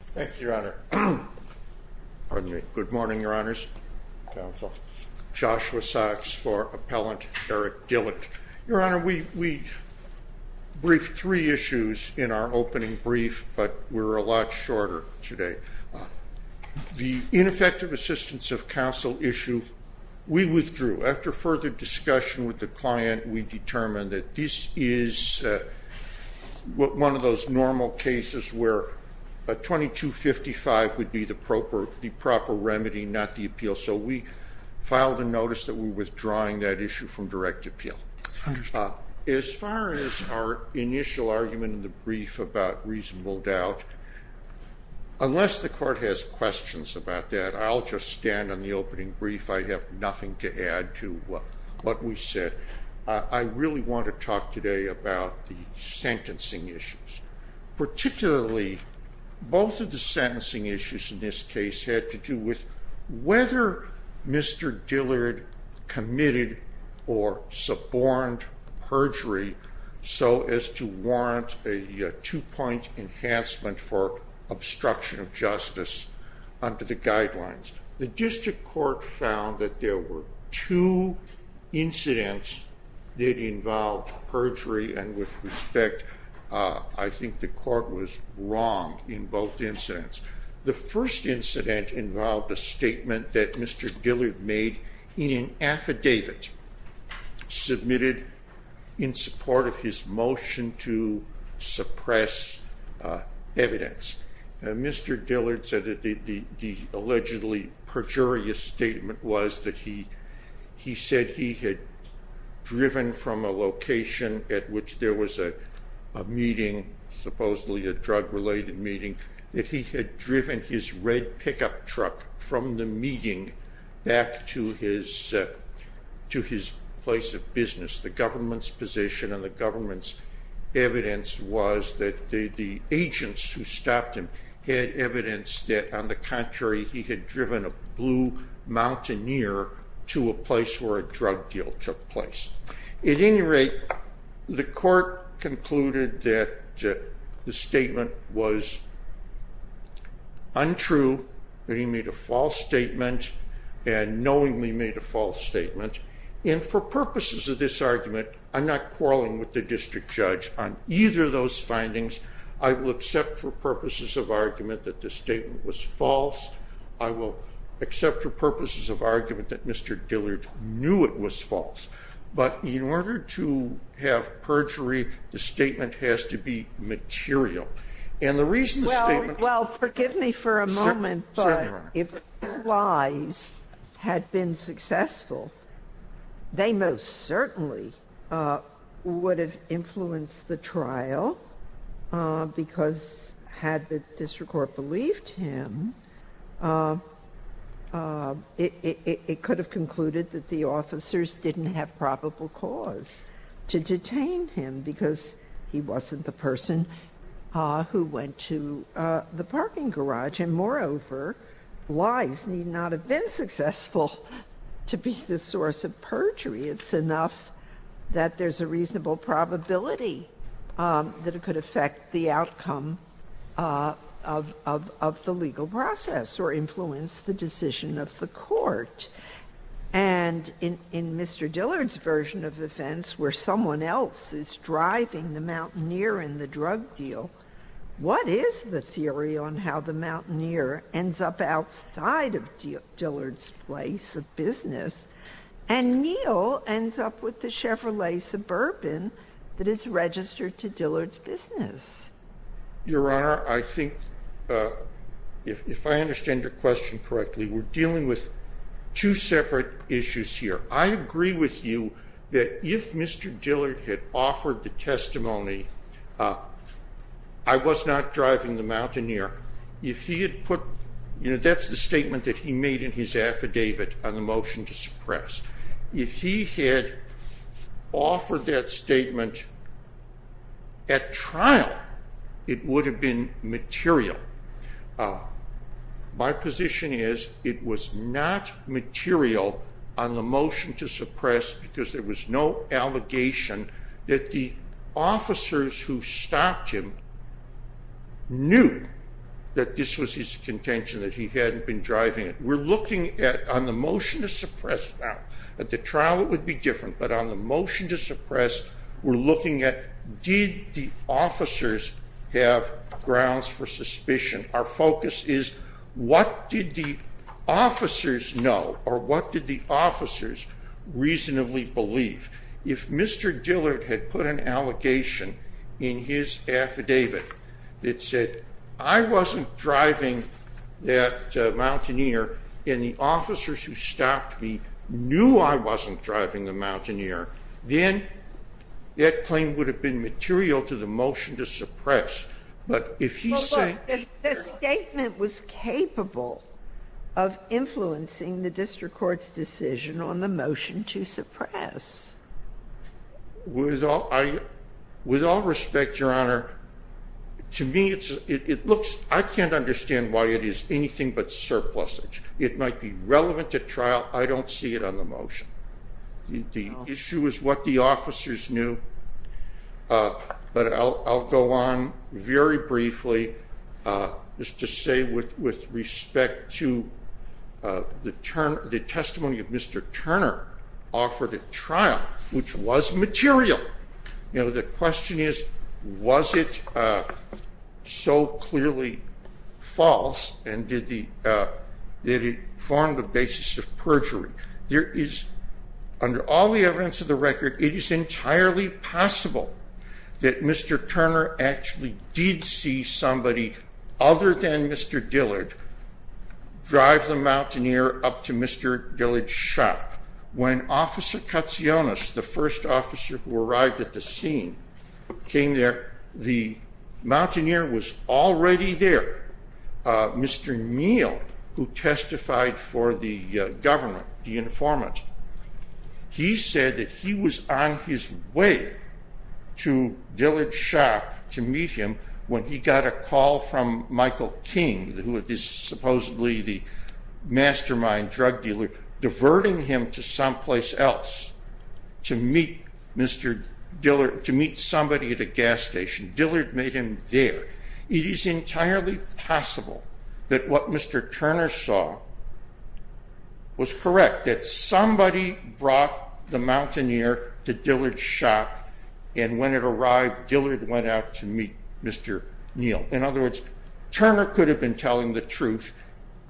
Thank you, Your Honor. Pardon me. Good morning, Your Honors. Joshua Sox for Appellant Erik Dillard. Your Honor, we briefed three issues in our opening brief, but we're a lot shorter today. The ineffective assistance of counsel issue, we withdrew. After further discussion with the client, we determined that this is one of those normal cases where a 2255 would be the proper remedy, not the appeal. So we filed a notice that we're withdrawing that issue from direct appeal. As far as our initial argument in the brief about reasonable doubt, unless the court has questions about that, I'll just stand on the opening brief. I have nothing to add to what we said. I really want to talk today about the sentencing issues, particularly both of the sentencing issues in this case had to do with whether Mr. Dillard committed or suborned perjury so as to warrant a two-point enhancement for obstruction of justice under the guidelines. The district court found that there were two incidents that involved perjury and with respect, I think the court was wrong in both incidents. The first incident involved a statement that Mr. Dillard made in an affidavit submitted in support of his motion to the allegedly perjurious statement was that he said he had driven from a location at which there was a meeting, supposedly a drug-related meeting, that he had driven his red pickup truck from the meeting back to his place of business. The government's position and the government's agents who stopped him had evidence that, on the contrary, he had driven a blue mountaineer to a place where a drug deal took place. At any rate, the court concluded that the statement was untrue, that he made a false statement, and knowingly made a false statement, and for purposes of this argument, I'm not quarreling with the district judge on either of those findings. I will accept for purposes of argument that the statement was false. I will accept for purposes of argument that Mr. Dillard knew it was false, but in order to have perjury, the statement has to be material, and the reason the statement... Well, forgive me for a moment, but if the plies had been successful, they most certainly would have influenced the trial because, had the district court believed him, it could have concluded that the officers didn't have probable cause to detain him because he wasn't the person who went to the parking garage, and moreover, lies need not have been successful to be the source of perjury. It's enough that there's a reasonable probability that it could affect the outcome of the legal process or influence the decision of the court, and in Mr. Dillard's version of events, where someone else is driving the mountaineer in the case of business, and Neal ends up with the Chevrolet Suburban that is registered to Dillard's business. Your Honor, I think, if I understand your question correctly, we're dealing with two separate issues here. I agree with you that if Mr. Dillard had offered the testimony, I was not driving the mountaineer. That's the statement that he made in his affidavit on the motion to suppress. If he had offered that statement at trial, it would have been material. My position is it was not material on the motion to suppress because there was no allegation that the officers who stopped him knew that this was his contention, that he hadn't been driving it. We're looking at, on the motion to suppress now, at the trial it would be different, but on the motion to suppress, we're looking at did the officers have grounds for suspicion. Our Mr. Dillard had put an allegation in his affidavit that said I wasn't driving that mountaineer and the officers who stopped me knew I wasn't driving the mountaineer, then that claim would have been material to the motion to suppress. But if he said the statement was capable of influencing the district court's decision on the motion to suppress. With all respect, your honor, to me it looks, I can't understand why it is anything but surplusage. It might be relevant to trial, I don't see it on the motion. The issue is what the officers knew, but I'll go on very briefly just to say with respect to the testimony of Mr. Turner offered at trial, which was material. You know, the question is was it so clearly false and did it form the basis of perjury? There is, under all the evidence of the record, it is entirely possible that Mr. Turner actually did see somebody other than Mr. Dillard drive the mountaineer up to Mr. Dillard's shop. When Officer Katsionis, the first officer who arrived at the meal, who testified for the government, the informant, he said that he was on his way to Dillard's shop to meet him when he got a call from Michael King, who is supposedly the mastermind drug dealer, diverting him to someplace else to meet Mr. Dillard, to meet somebody at a gas station. Dillard made him there. It is entirely possible that what Mr. Turner saw was correct, that somebody brought the mountaineer to Dillard's shop and when it arrived, Dillard went out to meet Mr. Neal. In other words, Turner could have been telling the truth,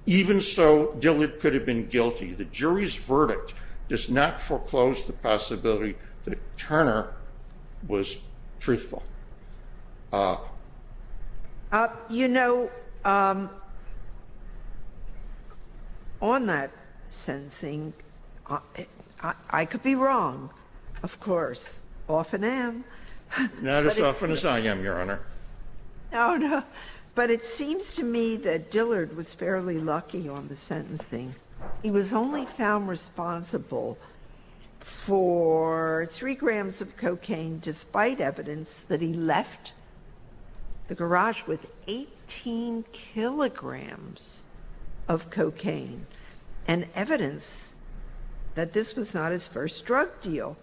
even so Dillard could have been guilty. The jury's verdict does not foreclose the possibility that Turner was truthful. You know, on that sentencing, I could be wrong, of course, often am. Not as often as I am, Your Honor. No, no, but it seems to me that Dillard was fairly lucky on the sentencing. He was only found responsible for three grams of cocaine, despite evidence that he left the garage with 18 kilograms of cocaine and evidence that this was not his first drug deal.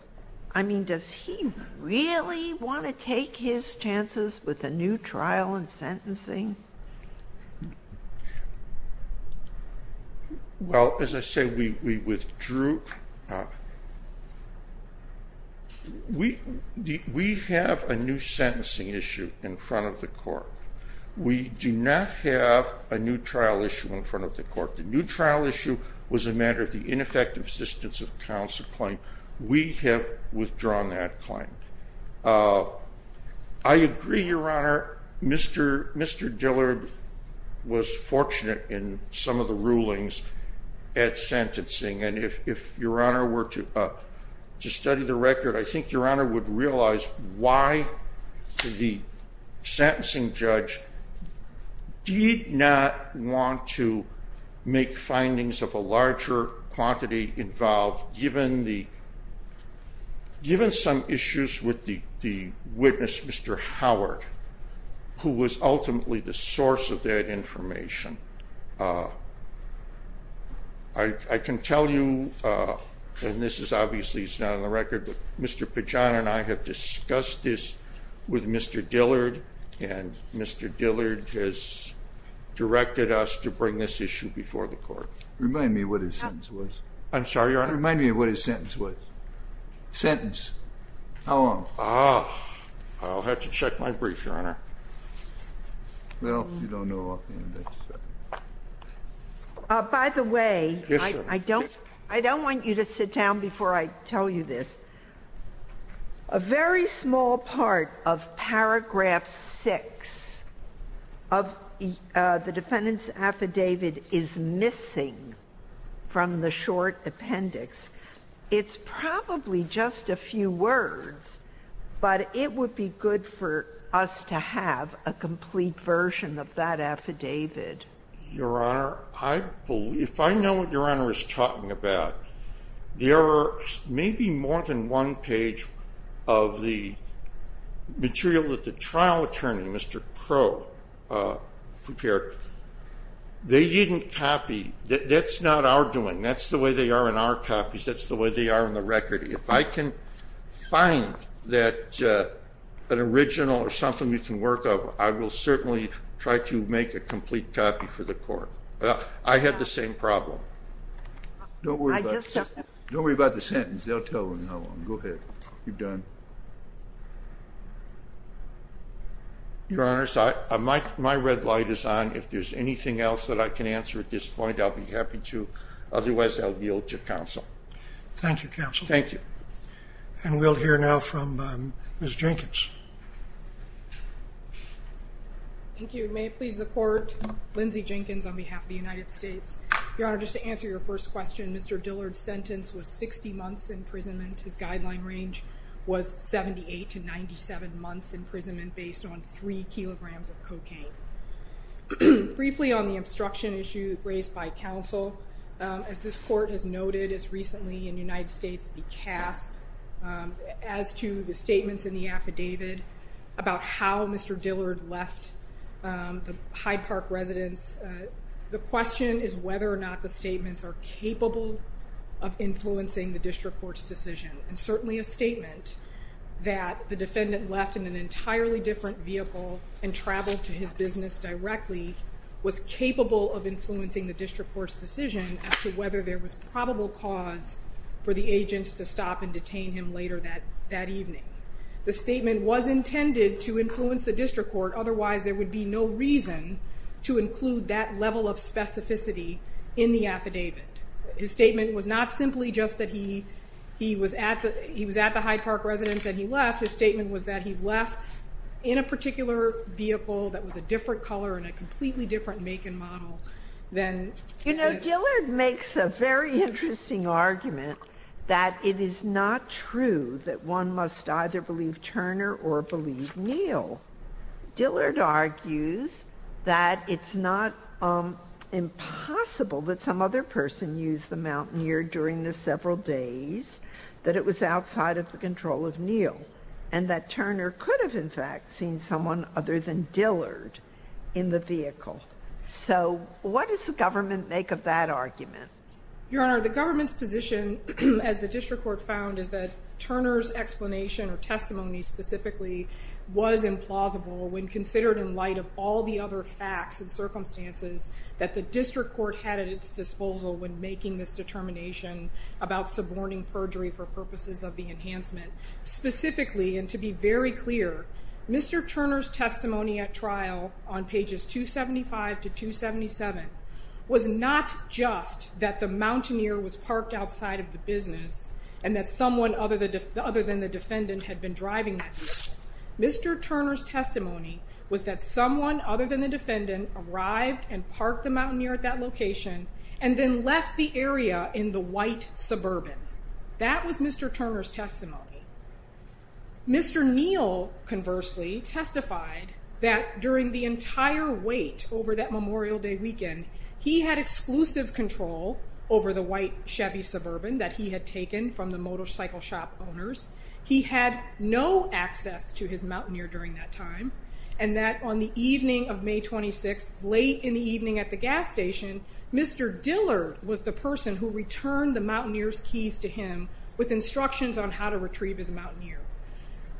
I mean, does he really want to take his chances with a new trial and sentencing? Well, as I say, we withdrew. We have a new sentencing issue in front of the court. We do not have a new trial issue in front of the court. The new trial issue was a matter of the ineffective assistance of counsel claim. We have withdrawn that claim. I agree, Your Honor, Mr. Dillard was fortunate in some of the rulings at sentencing, and if Your Honor were to study the record, I think Your Honor would realize why the sentencing judge did not want to make findings of a larger quantity involved, given some issues with the witness, Mr. Howard, who was ultimately the source of that information. I can tell you, and this is obviously not on the record, but Mr. Pajano and I have discussed this with Mr. Dillard, and Mr. Dillard has directed us to bring this issue before the court. Remind me what his sentence was. I'm sorry, Your Honor? Remind me what his sentence was. Sentence. How long? Well, you don't know offhand. By the way, I don't want you to sit down before I tell you this. A very small part of paragraph six of the defendant's affidavit is missing from the short appendix. It's probably just a few words, but it would be good for us to have a complete version of that affidavit. Your Honor, if I know what Your Honor is talking about, there are maybe more than one page of the material that the trial attorney, Mr. Crow, prepared. They didn't copy. That's not our doing. That's the way they are in our copies. That's the way they are in the record. If I can find that an original or something we can work up, I will certainly try to make a complete copy for the court. I had the same problem. Don't worry about the sentence. They'll tell you how long. Go ahead. You're done. Your Honor, my red light is on. If there's anything else that I can answer at this point, I'll be happy to. Otherwise, I'll yield to counsel. Thank you, counsel. Thank you. And we'll hear now from Ms. Jenkins. Thank you. May it please the court, Lindsay Jenkins on behalf of the United States. Your Honor, just to answer your first question, Mr. Dillard's sentence was 60 months imprisonment. His guideline range was 78 to 97 months imprisonment based on three kilograms of cocaine. Briefly on the obstruction issue raised by counsel, as this court has noted as recently in the United States be cast, as to the statements in the affidavit about how Mr. Dillard left the Hyde Park residence, the question is whether or not the statements are capable of influencing the district court's decision. And certainly a statement that the defendant left in an entirely different vehicle and traveled to his business directly was capable of influencing the district court's decision as to whether there was probable cause for the agents to stop and detain him later that evening. The statement was intended to influence the district court. Otherwise, there would be no reason to include that level of specificity in the affidavit. His statement was not simply just that he was at the Hyde Park residence and he left. His statement was that he left in a particular vehicle that was a different color and a completely different make and model. You know, Dillard makes a very interesting argument that it is not true that one must either believe Turner or believe Neal. Dillard argues that it's not impossible that some other person used the Mountaineer during the several days that it was outside of the control of Neal and that Turner could have in fact seen someone other than Dillard in the vehicle. So what does the government make of that argument? Your Honor, the government's position as the district court found is that Turner's explanation or testimony specifically was implausible when considered in light of all the other facts and circumstances that the district court had at its disposal when making this determination about suborning perjury for on pages 275 to 277 was not just that the Mountaineer was parked outside of the business and that someone other than the defendant had been driving that vehicle. Mr. Turner's testimony was that someone other than the defendant arrived and parked the Mountaineer at that location and then left the area in the white Suburban. That was Mr. Turner's testimony. Mr. Neal conversely testified that during the entire wait over that Memorial Day weekend, he had exclusive control over the white Chevy Suburban that he had taken from the motorcycle shop owners. He had no access to his Mountaineer during that time and that on the evening of May 26th, late in the evening at the gas station, Mr. Dillard was the person who returned the Mountaineer.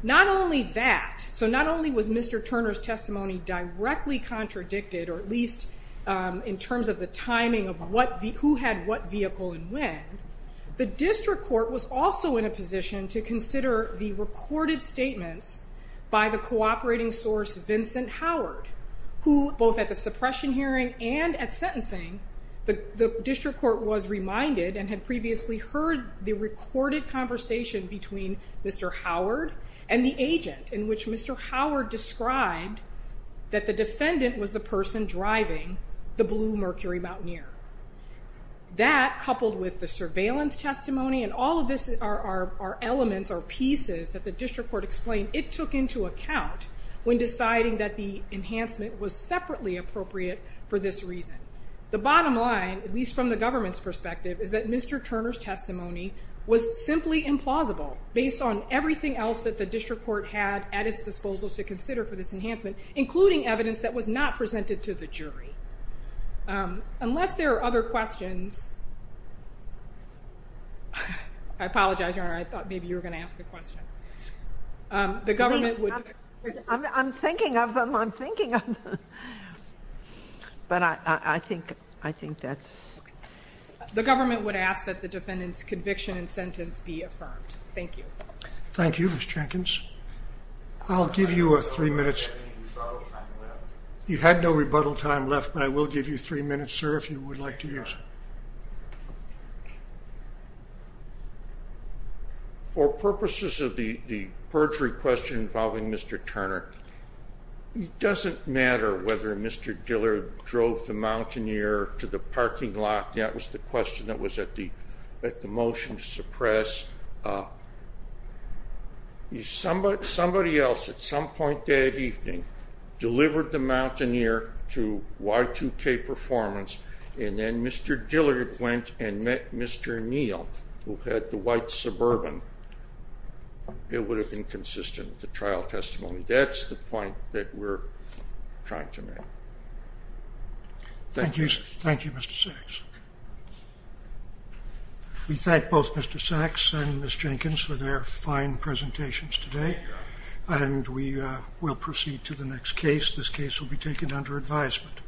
Not only that, so not only was Mr. Turner's testimony directly contradicted or at least in terms of the timing of who had what vehicle and when, the district court was also in a position to consider the recorded statements by the cooperating source Vincent Howard who both at the suppression hearing and at sentencing, the district court was reminded and had previously heard the recorded conversation between Mr. Howard and the agent in which Mr. Howard described that the defendant was the person driving the blue Mercury Mountaineer. That coupled with the surveillance testimony and all of this are elements or pieces that the district court explained it took into account when deciding that the enhancement was separately appropriate for this reason. The bottom line, at least from the government's perspective, is that Mr. Turner's testimony was simply implausible based on everything else that the district court had at its disposal to consider for this enhancement, including evidence that was not presented to the jury. Unless there are other questions... I apologize, Your Honor, I thought maybe you were going to ask a question. The government would... I'm thinking of them, I'm thinking of them, but I think that's... The government would ask that the defendant's conviction and sentence be affirmed. Thank you. Thank you, Ms. Jenkins. I'll give you three minutes. You had no rebuttal time left, but I will give you three minutes, sir, if you would like to use it. For purposes of the perjury question involving Mr. Turner, it doesn't matter whether Mr. Dillard drove the Mountaineer to the parking lot. That was the question that was at the motion to suppress. Somebody else, at some point that evening, delivered the Mountaineer to Y2K Performance, and then Mr. Dillard went and met Mr. Neal, who had the white Suburban. It would have been consistent with the trial testimony. That's the point that we're trying to get to. Thank you. Thank you, Mr. Sacks. We thank both Mr. Sacks and Ms. Jenkins for their fine presentations today, and we will proceed to the next case. This case will be taken under advisement.